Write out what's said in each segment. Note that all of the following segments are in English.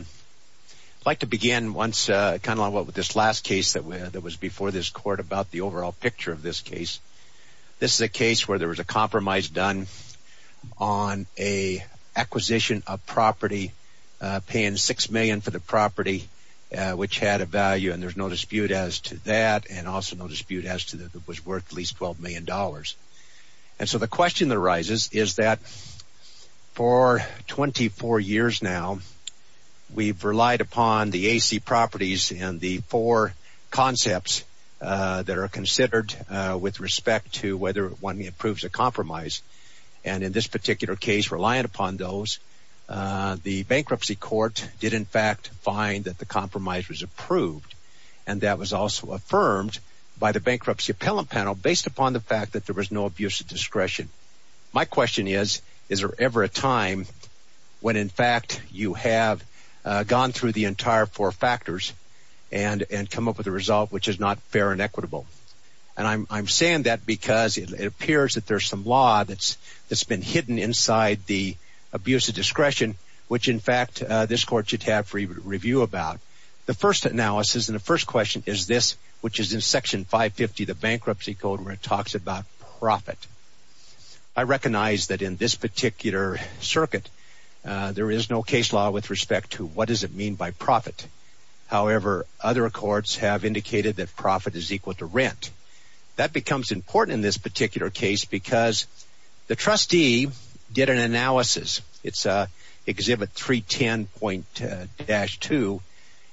I'd like to begin with this last case that was before this court about the overall picture of this case. This is a case where there was a compromise done on an acquisition of property, paying $6 million for the property, which had a value, and there's no dispute as to that, and also no dispute as to that it was worth at least $12 million. And so the question that arises is that for 24 years now, we've relied upon the AC properties and the four concepts that are considered with respect to whether one approves a compromise, and in this particular case, relying upon those, the bankruptcy court did in fact find that the compromise was approved, and that was also affirmed by the bankruptcy appellant panel based upon the fact that there was no abuse of discretion. My question is, is there ever a time when in fact you have gone through the entire four factors and come up with a result which is not fair and equitable? And I'm saying that because it appears that there's some law that's been hidden inside the abuse of discretion, which in fact this court should have review about. So the first analysis and the first question is this, which is in Section 550 of the Bankruptcy Code where it talks about profit. I recognize that in this particular circuit, there is no case law with respect to what does it mean by profit. However, other courts have indicated that profit is equal to rent. That becomes important in this particular case because the trustee did an analysis. It's Exhibit 310.-2,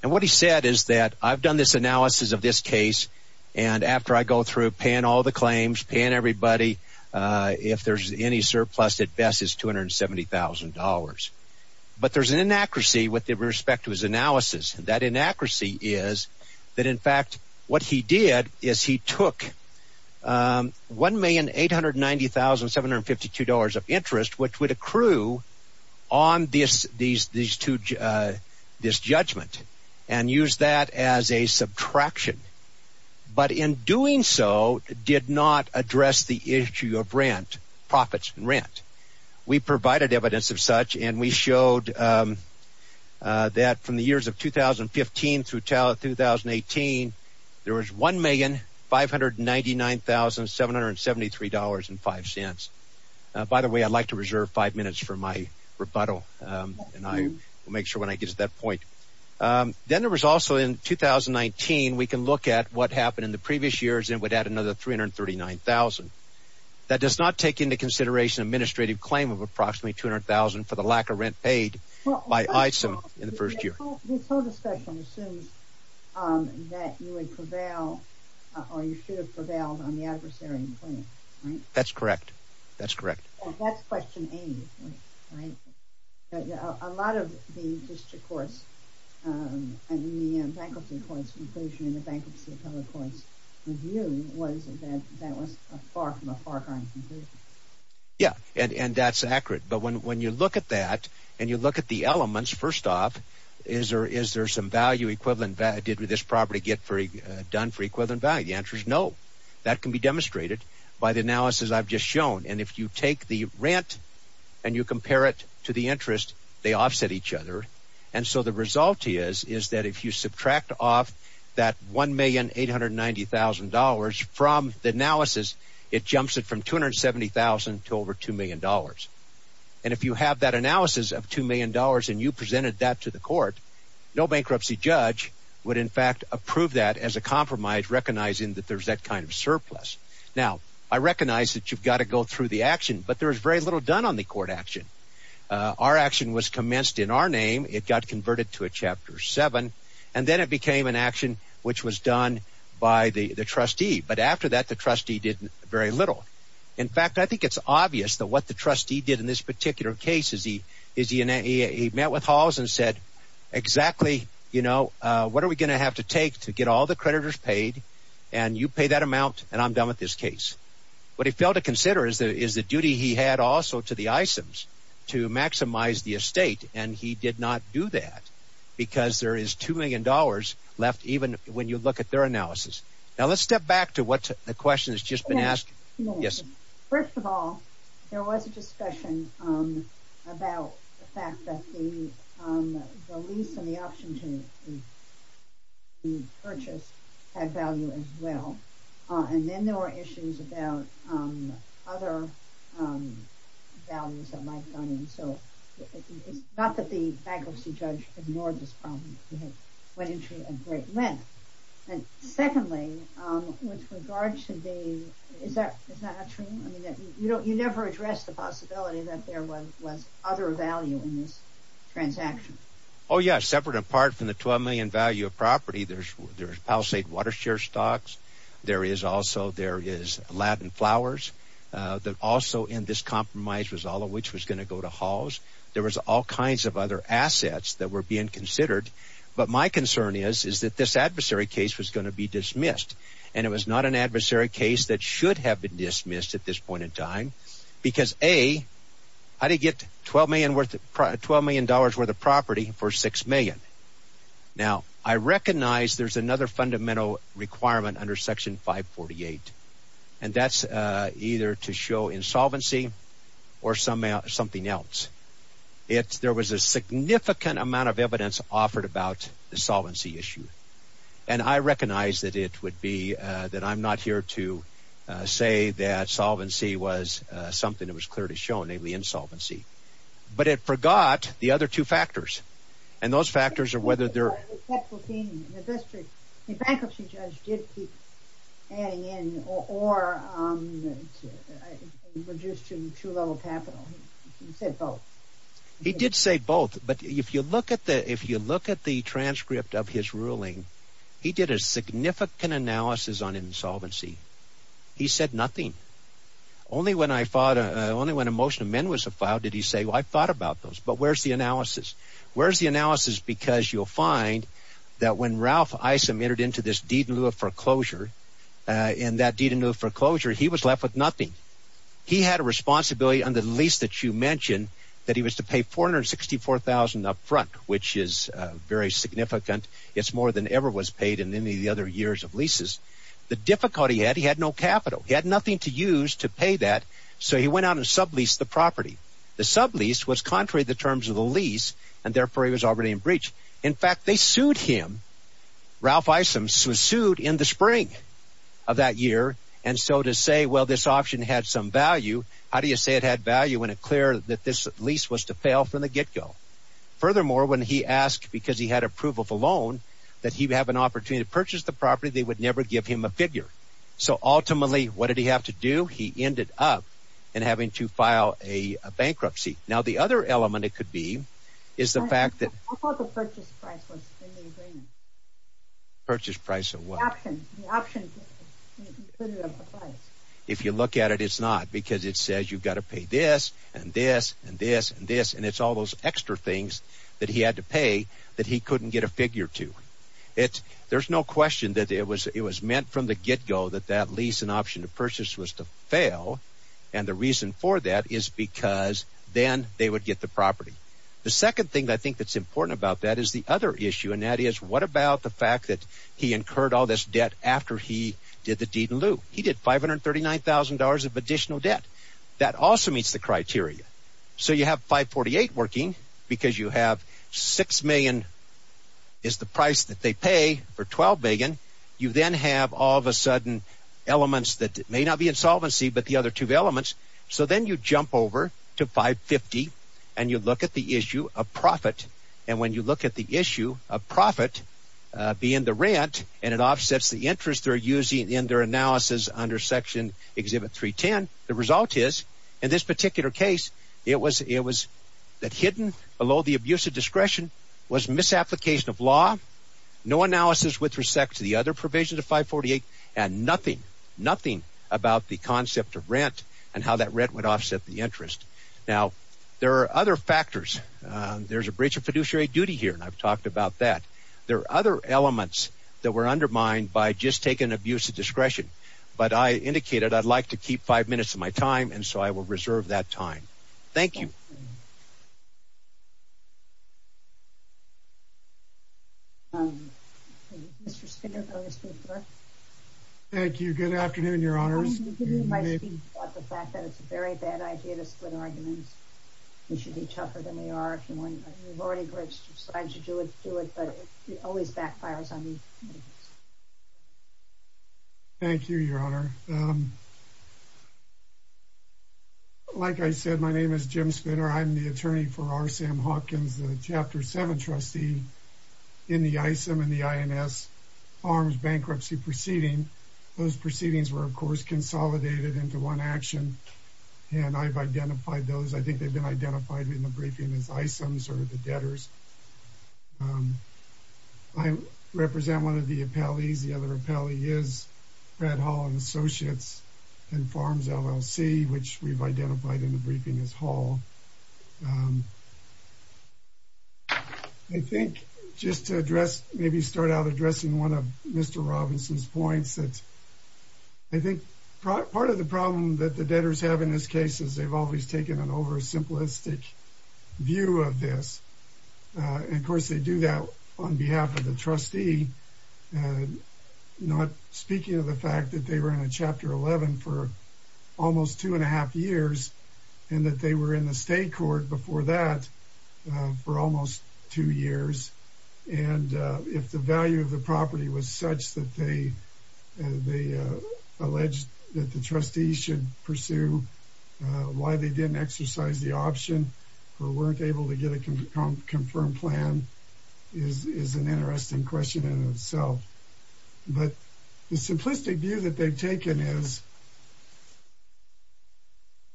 and what he said is that I've done this analysis of this case, and after I go through paying all the claims, paying everybody, if there's any surplus, at best it's $270,000. But there's an inaccuracy with respect to his analysis. That inaccuracy is that in fact what he did is he took $1,890,752 of interest, which would accrue on this judgment, and used that as a subtraction. But in doing so, did not address the issue of rent, profits and rent. We provided evidence of such, and we showed that from the years of 2015 through 2018, there was $1,599,773.05. By the way, I'd like to reserve five minutes for my rebuttal, and I will make sure when I get to that point. Then there was also in 2019, we can look at what happened in the previous years, and it would add another $339,000. That does not take into consideration an administrative claim of approximately $200,000 for the lack of rent paid by ISIM in the first year. Well, this whole discussion assumes that you would prevail, or you should have prevailed on the adversarial claim, right? That's correct. That's correct. That's question A, right? A lot of the interest accords and the bankruptcy accords conclusion and the bankruptcy accords review was that that was far from a far-crying conclusion. Yeah, and that's accurate. But when you look at that and you look at the elements, first off, is there some value equivalent value? Did this property get done for equivalent value? The answer is no. That can be demonstrated by the analysis I've just shown. If you take the rent and you compare it to the interest, they offset each other. So the result is that if you subtract off that $1,890,000 from the analysis, it jumps it from $270,000 to over $2,000,000. And if you have that analysis of $2,000,000 and you presented that to the court, no bankruptcy judge would in fact approve that as a compromise recognizing that there's that kind of surplus. Now, I recognize that you've got to go through the action, but there is very little done on the court action. Our action was commenced in our name. It got converted to a Chapter 7. And then it became an action which was done by the trustee. But after that, the trustee did very little. In fact, I think it's obvious that what the trustee did in this particular case is he met with Halls and said, exactly what are we going to have to take to get all the creditors paid, and you pay that amount, and I'm done with this case. What he failed to consider is the duty he had also to the ISIMs to maximize the estate, and he did not do that because there is $2,000,000 left even when you look at their analysis. Now, let's step back to what the question has just been asked. Yes? First of all, there was a discussion about the fact that the lease and the option to purchase had value as well. And then there were issues about other values that might have gone in. So it's not that the bankruptcy judge ignored this problem. It went into a great length. And secondly, with regards to the – is that true? I mean, you never addressed the possibility that there was other value in this transaction. Oh, yes. Separate and apart from the $12,000,000 value of property, there's Palisade Watershare stocks. There is also – there is Latin Flowers that also in this compromise was all of which was going to go to Halls. There was all kinds of other assets that were being considered. But my concern is that this adversary case was going to be dismissed. And it was not an adversary case that should have been dismissed at this point in time because, A, I didn't get $12,000,000 worth of property for $6,000,000. Now, I recognize there's another fundamental requirement under Section 548. And that's either to show insolvency or something else. There was a significant amount of evidence offered about the solvency issue. And I recognize that it would be – that I'm not here to say that solvency was something that was clearly shown, namely insolvency. But it forgot the other two factors. And those factors are whether they're – The faculty judge did keep adding in or reduced to true level capital. He said both. He did say both. But if you look at the transcript of his ruling, he did a significant analysis on insolvency. He said nothing. Only when a motion amendment was filed did he say, well, I've thought about those, but where's the analysis? Where's the analysis? Because you'll find that when Ralph Isom entered into this deed in lieu of foreclosure, in that deed in lieu of foreclosure, he was left with nothing. He had a responsibility under the lease that you mentioned that he was to pay $464,000 upfront, which is very significant. It's more than ever was paid in any of the other years of leases. The difficulty he had, he had no capital. He had nothing to use to pay that, so he went out and subleased the property. The sublease was contrary to the terms of the lease, and therefore he was already in breach. In fact, they sued him. Ralph Isom was sued in the spring of that year. And so to say, well, this option had some value, how do you say it had value when it's clear that this lease was to fail from the get-go? Furthermore, when he asked, because he had approval of a loan, that he would have an opportunity to purchase the property, they would never give him a figure. So ultimately, what did he have to do? He ended up in having to file a bankruptcy. Now, the other element it could be is the fact that... I thought the purchase price was in the agreement. Purchase price of what? The option. The option included of the price. If you look at it, it's not, because it says you've got to pay this and this and this and this, and it's all those extra things that he had to pay that he couldn't get a figure to. There's no question that it was meant from the get-go that that lease and option to purchase was to fail, and the reason for that is because then they would get the property. The second thing I think that's important about that is the other issue, and that is what about the fact that he incurred all this debt after he did the deed in lieu? He did $539,000 of additional debt. That also meets the criteria. So you have 548 working because you have 6 million is the price that they pay for 12 million. You then have all of a sudden elements that may not be insolvency, but the other two elements. So then you jump over to 550, and you look at the issue of profit, and when you look at the issue of profit being the rent, and it offsets the interest they're using in their analysis under Section Exhibit 310, the result is, in this particular case, it was that hidden below the abuse of discretion was misapplication of law, no analysis with respect to the other provisions of 548, and nothing, nothing about the concept of rent and how that rent would offset the interest. Now, there are other factors. There's a breach of fiduciary duty here, and I've talked about that. There are other elements that were undermined by just taking abuse of discretion, but I indicated I'd like to keep five minutes of my time, and so I will reserve that time. Thank you. Mr. Spinner, earlier speaker. Thank you. Good afternoon, Your Honors. I want to give you my speech about the fact that it's a very bad idea to split arguments. We should be tougher than we are. You've already decided to do it, but it always backfires on me. Thank you, Your Honor. Like I said, my name is Jim Spinner. I'm the attorney for R. Sam Hawkins, the Chapter 7 trustee in the ISM and the INS farms bankruptcy proceeding. Those proceedings were, of course, consolidated into one action, and I've identified those. I think they've been identified in the briefing as ISMs or the debtors. I represent one of the appellees. The other appellee is Brad Hall and Associates and Farms, LLC, which we've identified in the briefing as Hall. I think just to address, maybe start out addressing one of Mr. Robinson's points, that I think part of the problem that the debtors have in this case is they've always taken an oversimplistic view of this. Of course, they do that on behalf of the trustee, not speaking of the fact that they were in a Chapter 11 for almost two and a half years and that they were in the state court before that for almost two years. If the value of the property was such that they alleged that the trustees should pursue why they didn't exercise the option or weren't able to get a confirmed plan is an interesting question in itself. But the simplistic view that they've taken is,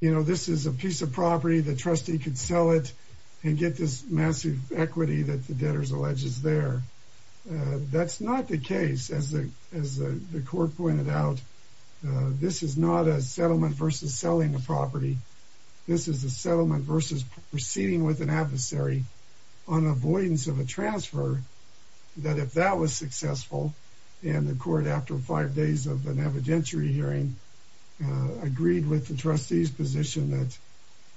you know, this is a piece of property. The trustee could sell it and get this massive equity that the debtors allege is there. That's not the case. As the court pointed out, this is not a settlement versus selling the property. This is a settlement versus proceeding with an adversary on avoidance of a transfer. That if that was successful and the court, after five days of an evidentiary hearing, agreed with the trustees position that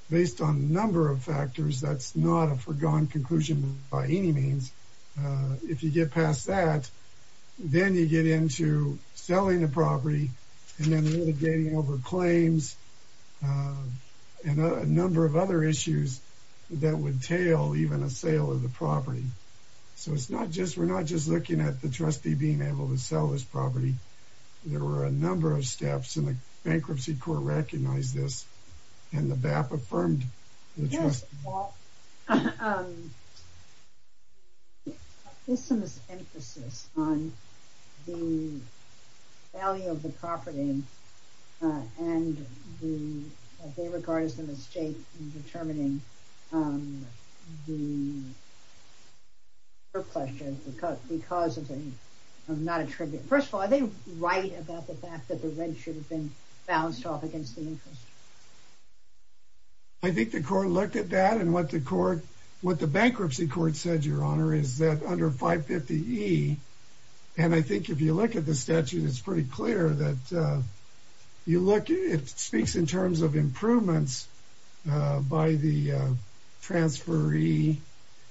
based on a number of factors, that's not a forgone conclusion by any means. If you get past that, then you get into selling the property and then renegading over claims and a number of other issues that would tail even a sale of the property. So it's not just we're not just looking at the trustee being able to sell this property. There were a number of steps in the bankruptcy court recognize this and the BAP affirmed. Yes. This is an emphasis on the value of the property. And they regard it as a mistake in determining the question because because of the not a tribute. First of all, they write about the fact that the rent should have been bounced off against the interest. I think the court looked at that and what the court what the bankruptcy court said, your honor, is that under 550 E. And I think if you look at the statute, it's pretty clear that you look, it speaks in terms of improvements by the transferee.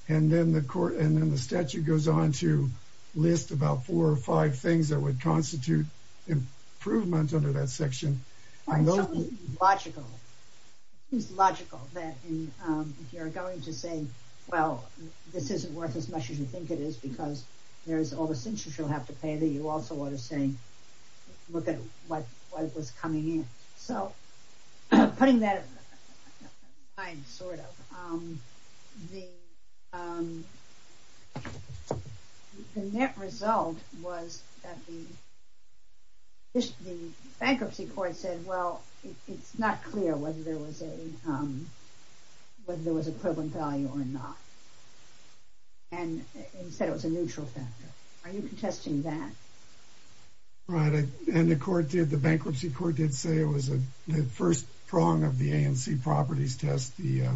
And then the court and then the statute goes on to list about four or five things that would constitute improvement under that section. I know. Logical. It's logical that you're going to say, well, this isn't worth as much as you think it is because there's all the things you'll have to pay that you also want to say, look at what was coming in. So putting that aside sort of the net result was that the bankruptcy court said, well, it's not clear whether there was a whether there was equivalent value or not. And he said it was a neutral factor. Are you contesting that? And the court did. The bankruptcy court did say it was the first prong of the ANC properties test. The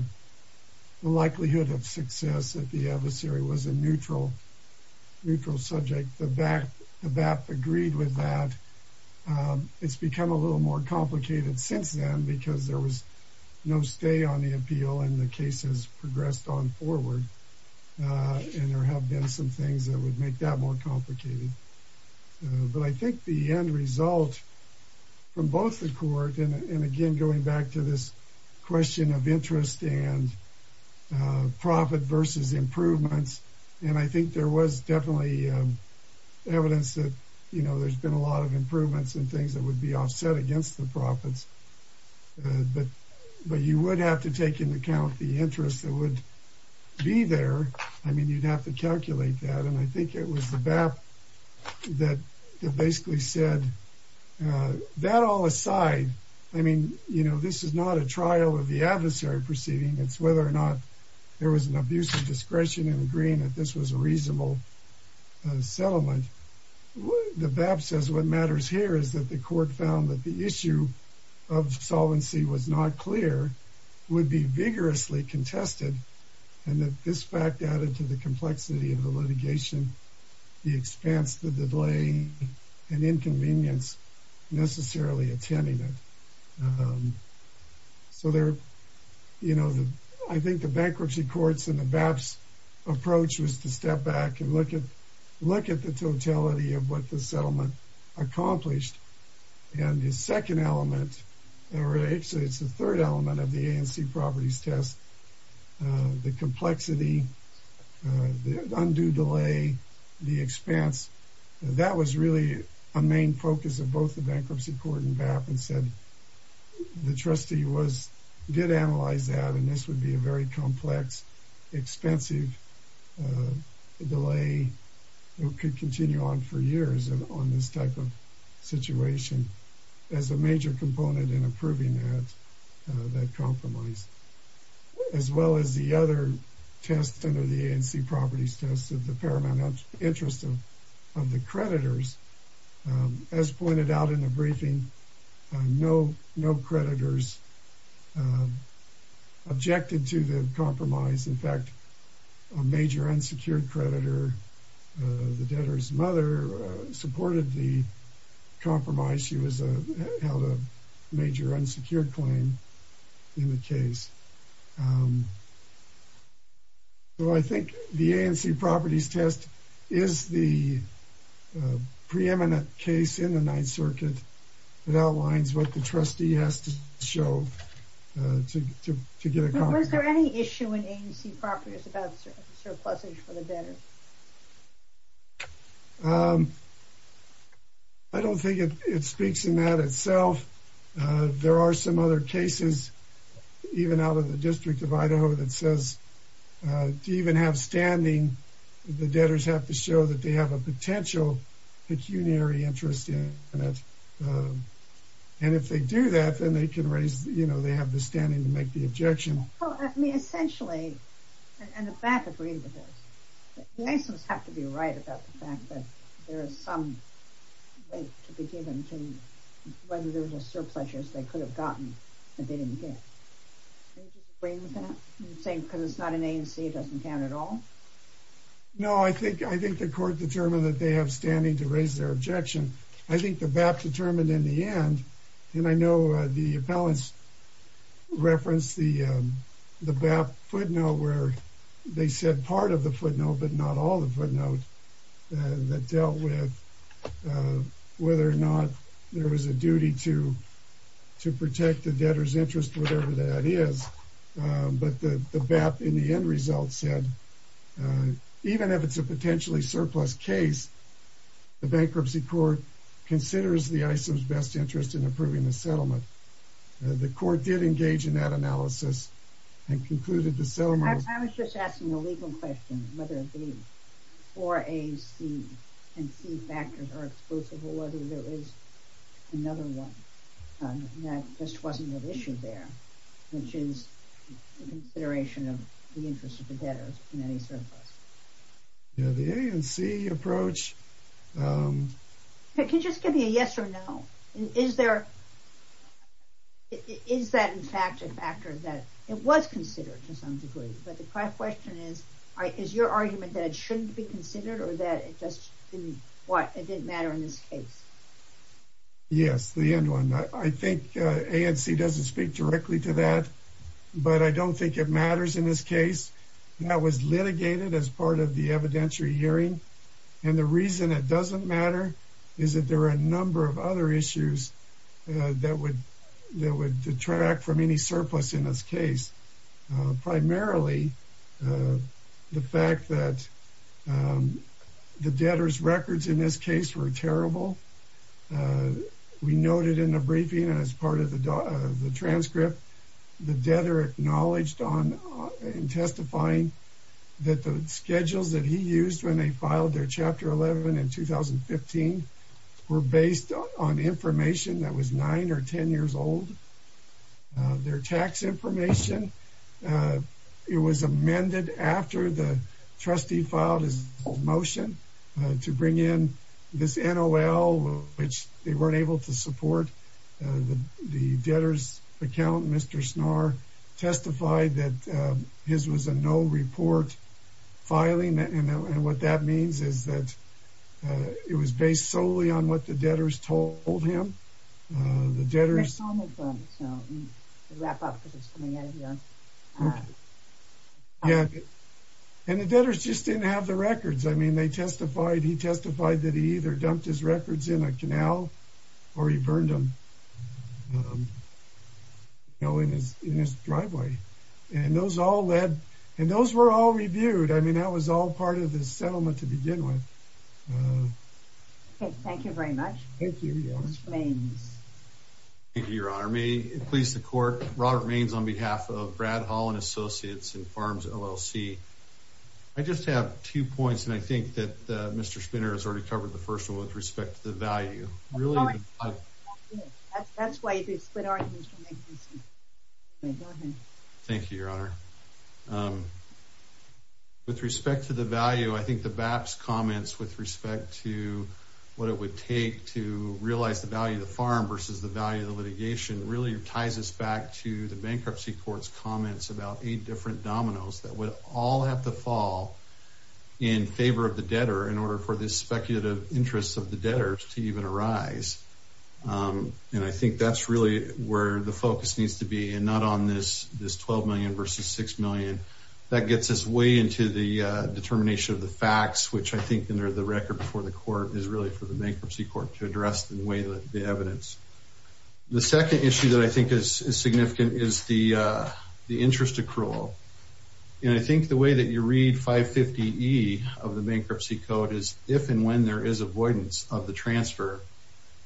likelihood of success at the adversary was a neutral, neutral subject. The BAP agreed with that. It's become a little more complicated since then because there was no stay on the appeal and the case has progressed on forward. And there have been some things that would make that more complicated. But I think the end result from both the court and again, going back to this question of interest and profit versus improvements. And I think there was definitely evidence that, you know, there's been a lot of improvements and things that would be offset against the profits. But you would have to take into account the interest that would be there. I mean, you'd have to calculate that. And I think it was the BAP that basically said that all aside. I mean, you know, this is not a trial of the adversary proceeding. It's whether or not there was an abuse of discretion in agreeing that this was a reasonable settlement. The BAP says what matters here is that the court found that the issue of solvency was not clear, would be vigorously contested. And that this fact added to the complexity of the litigation, the expense, the delay and inconvenience necessarily attending it. So there, you know, I think the bankruptcy courts and the BAP's approach was to step back and look at the totality of what the settlement accomplished. And the second element, or actually it's the third element of the ANC properties test, the complexity, the undue delay, the expense. That was really a main focus of both the bankruptcy court and BAP and said the trustee did analyze that. And this would be a very complex, expensive delay that could continue on for years on this type of situation as a major component in approving that compromise. As well as the other tests under the ANC properties test of the paramount interest of the creditors. As pointed out in the briefing, no creditors objected to the compromise. In fact, a major unsecured creditor, the debtor's mother, supported the compromise. She held a major unsecured claim in the case. So I think the ANC properties test is the preeminent case in the Ninth Circuit. It outlines what the trustee has to show to get a compromise. Was there any issue in ANC properties about surpluses for the debtor? I don't think it speaks in that itself. There are some other cases, even out of the District of Idaho, that says to even have standing, the debtors have to show that they have a potential pecuniary interest in it. And if they do that, then they can raise, you know, they have the standing to make the objection. Well, I mean, essentially, and the BAPT agreed with this. The license have to be right about the fact that there is some weight to be given to whether there were surpluses they could have gotten and they didn't get. Do you agree with that? You're saying because it's not an ANC, it doesn't count at all? No, I think the court determined that they have standing to raise their objection. I think the BAPT determined in the end, and I know the appellants referenced the BAPT footnote where they said part of the footnote, but not all the footnote that dealt with whether or not there was a duty to protect the debtor's interest, whatever that is. But the BAPT in the end result said, even if it's a potentially surplus case, the bankruptcy court considers the ISIM's best interest in approving the settlement. The court did engage in that analysis and concluded the settlement. I was just asking a legal question, whether the 4AC and C factors are exclusive or whether there is another one that just wasn't an issue there, which is the consideration of the interest of the debtor in any surplus. The ANC approach... Can you just give me a yes or no? Is that in fact a factor that it was considered to some degree? But my question is, is your argument that it shouldn't be considered or that it just didn't matter in this case? Yes, the end one. I think ANC doesn't speak directly to that, but I don't think it matters in this case. That was litigated as part of the evidentiary hearing. And the reason it doesn't matter is that there are a number of other issues that would detract from any surplus in this case. Primarily, the fact that the debtor's records in this case were terrible. We noted in the briefing as part of the transcript, the debtor acknowledged in testifying that the schedules that he used when they filed their Chapter 11 in 2015 were based on information that was 9 or 10 years old. Their tax information. It was amended after the trustee filed his motion to bring in this NOL, which they weren't able to support. The debtor's account, Mr. Snarr, testified that his was a no report filing. And what that means is that it was based solely on what the debtors told him. And the debtors just didn't have the records. I mean, he testified that he either dumped his records in a canal or he burned them in his driveway. And those were all reviewed. I mean, that was all part of the settlement to begin with. Thank you very much. Thank you, Mr. Maynes. Thank you, Your Honor. May it please the Court, Robert Maynes on behalf of Brad Hall and Associates and Farms, LLC. I just have two points, and I think that Mr. Spinner has already covered the first one with respect to the value. That's why you do split arguments. Thank you, Your Honor. With respect to the value, I think the BAPS comments with respect to what it would take to realize the value of the farm versus the value of the litigation really ties us back to the bankruptcy court's comments about eight different dominoes that would all have to fall in favor of the debtor in order for the speculative interests of the debtors to even arise. And I think that's really where the focus needs to be, and not on this $12 million versus $6 million. That gets us way into the determination of the facts, which I think under the record before the court is really for the bankruptcy court to address in the way that the evidence. The second issue that I think is significant is the interest accrual. And I think the way that you read 550E of the bankruptcy code is if and when there is avoidance of the transfer,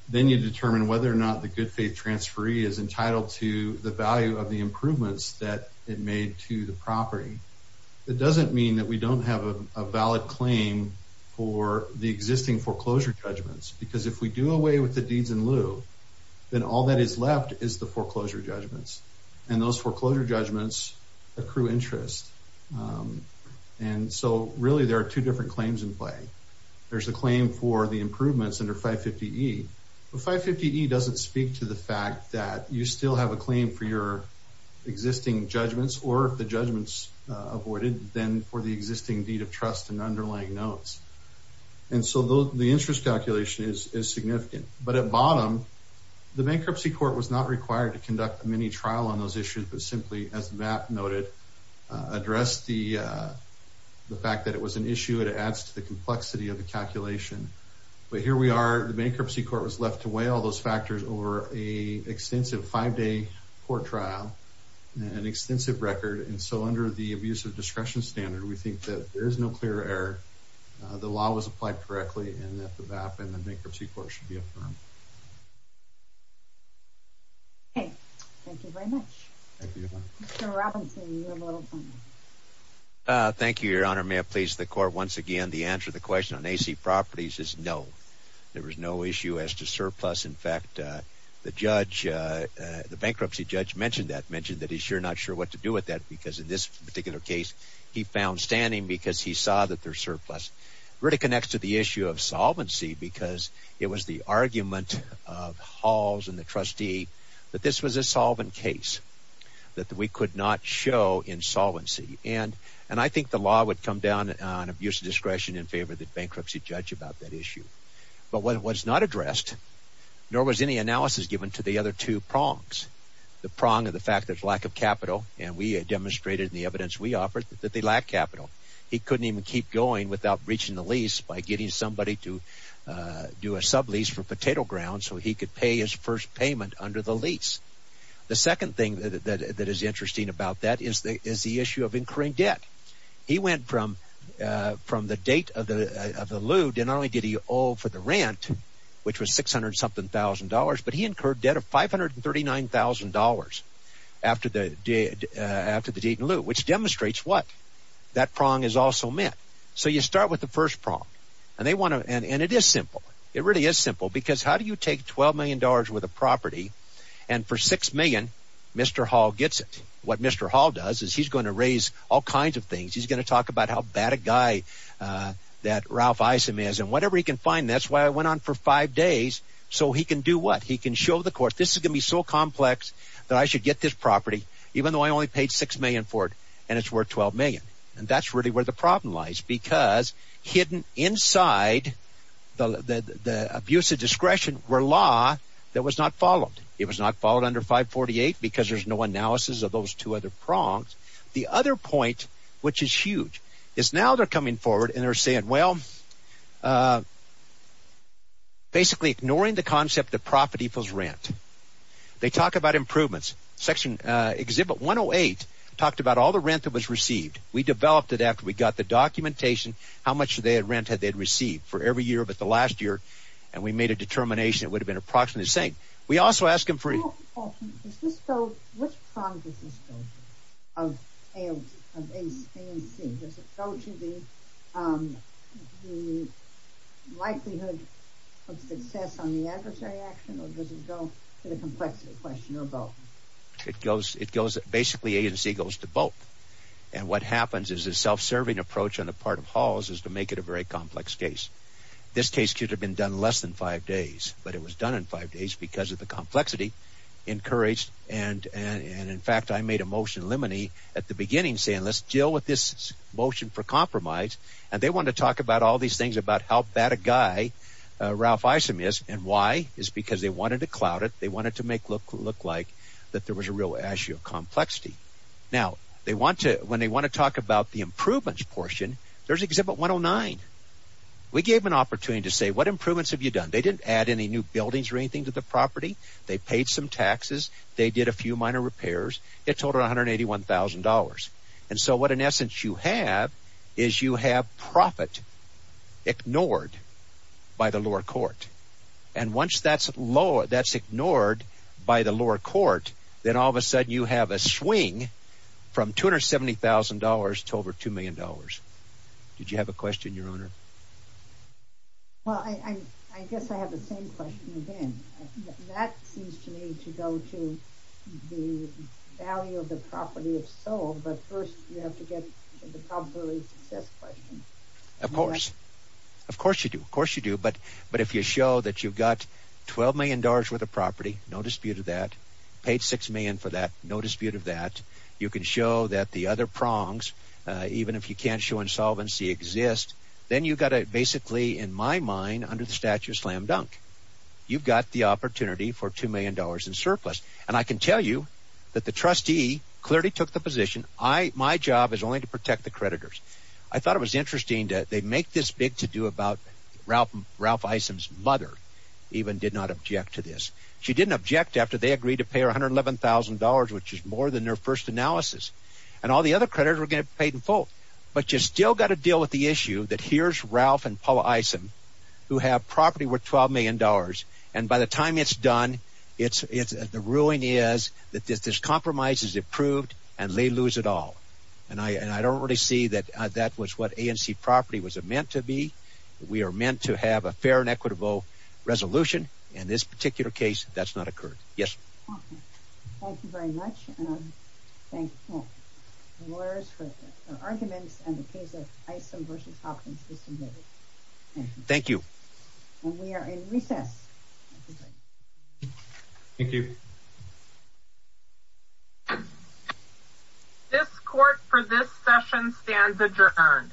then you determine whether or not the good faith transferee is entitled to the value of the improvements that it made to the property. It doesn't mean that we don't have a valid claim for the existing foreclosure judgments, because if we do away with the deeds in lieu, then all that is left is the foreclosure judgments. And those foreclosure judgments accrue interest. And so really there are two different claims in play. There's a claim for the improvements under 550E. But 550E doesn't speak to the fact that you still have a claim for your existing judgments, or if the judgment's avoided, then for the existing deed of trust and underlying notes. And so the interest calculation is significant. But at bottom, the bankruptcy court was not required to conduct a mini trial on those issues, but simply, as Matt noted, addressed the fact that it was an issue. It adds to the complexity of the calculation. But here we are. The bankruptcy court was left to weigh all those factors over a extensive five-day court trial, an extensive record. And so under the abuse of discretion standard, we think that there is no clear error. The law was applied correctly, and that the BAP and the bankruptcy court should be affirmed. Okay. Thank you very much. Thank you. Mr. Robinson, you have a little time. Thank you, Your Honor. May it please the Court, once again, the answer to the question on AC properties is no. There was no issue as to surplus. In fact, the bankruptcy judge mentioned that, mentioned that he's sure not sure what to do with that because in this particular case, he found standing because he saw that there's surplus. It really connects to the issue of solvency because it was the argument of Halls and the trustee that this was a solvent case, that we could not show insolvency. And I think the law would come down on abuse of discretion in favor of the bankruptcy judge about that issue. But what was not addressed, nor was any analysis given to the other two prongs, the prong of the fact there's lack of capital, and we demonstrated in the evidence we offered that they lack capital. He couldn't even keep going without reaching the lease by getting somebody to do a sublease for potato grounds so he could pay his first payment under the lease. The second thing that is interesting about that is the issue of incurring debt. He went from the date of the leu, not only did he owe for the rent, which was $600-something thousand dollars, but he incurred debt of $539,000 after the date and leu, which demonstrates what? That prong is also met. So you start with the first prong. And it is simple. It really is simple because how do you take $12 million worth of property and for $6 million, Mr. Hall gets it? What Mr. Hall does is he's going to raise all kinds of things. He's going to talk about how bad a guy that Ralph Isom is and whatever he can find. That's why I went on for five days so he can do what? He can show the court this is going to be so complex that I should get this property even though I only paid $6 million for it and it's worth $12 million. And that's really where the problem lies because hidden inside the abuse of discretion were law that was not followed. It was not followed under 548 because there's no analysis of those two other prongs. The other point, which is huge, is now they're coming forward and they're saying, well, basically ignoring the concept that property equals rent. They talk about improvements. Section Exhibit 108 talked about all the rent that was received. We developed it after we got the documentation how much rent they had received for every year but the last year. And we made a determination it would have been approximately the same. What prong does this go to of A and C? Does it go to the likelihood of success on the adversary action or does it go to the complexity question or both? Basically A and C goes to both. And what happens is a self-serving approach on the part of Halls is to make it a very complex case. This case could have been done in less than five days but it was done in five days because of the complexity encouraged. And, in fact, I made a motion in Lemony at the beginning saying let's deal with this motion for compromise. And they wanted to talk about all these things about how bad a guy Ralph Isom is and why. It's because they wanted to cloud it. They wanted to make it look like that there was a real issue of complexity. Now, when they want to talk about the improvements portion, there's Exhibit 109. We gave them an opportunity to say what improvements have you done? They didn't add any new buildings or anything to the property. They paid some taxes. They did a few minor repairs. It totaled $181,000. And so what, in essence, you have is you have profit ignored by the lower court. And once that's ignored by the lower court, then all of a sudden you have a swing from $270,000 to over $2 million. Did you have a question, Your Honor? Well, I guess I have the same question again. That seems to me to go to the value of the property if sold, but first you have to get to the probability of success question. Of course. Of course you do. Of course you do. But if you show that you've got $12 million worth of property, no dispute of that, paid $6 million for that, no dispute of that, you can show that the other prongs, even if you can't show insolvency, exist, then you've got to basically, in my mind, under the statute of slam dunk, you've got the opportunity for $2 million in surplus. And I can tell you that the trustee clearly took the position, my job is only to protect the creditors. I thought it was interesting that they make this big to do about Ralph Isom's mother even did not object to this. She didn't object after they agreed to pay her $111,000, which is more than their first analysis. And all the other creditors were going to get paid in full. But you've still got to deal with the issue that here's Ralph and Paula Isom who have property worth $12 million, and by the time it's done, the ruling is that this compromise is approved and they lose it all. And I don't really see that that was what ANC property was meant to be. We are meant to have a fair and equitable resolution. In this particular case, that's not occurred. Yes. Thank you very much. And I thank the lawyers for their arguments and the case of Isom v. Hopkins for submitting it. Thank you. And we are in recess. Thank you. This court for this session stands adjourned.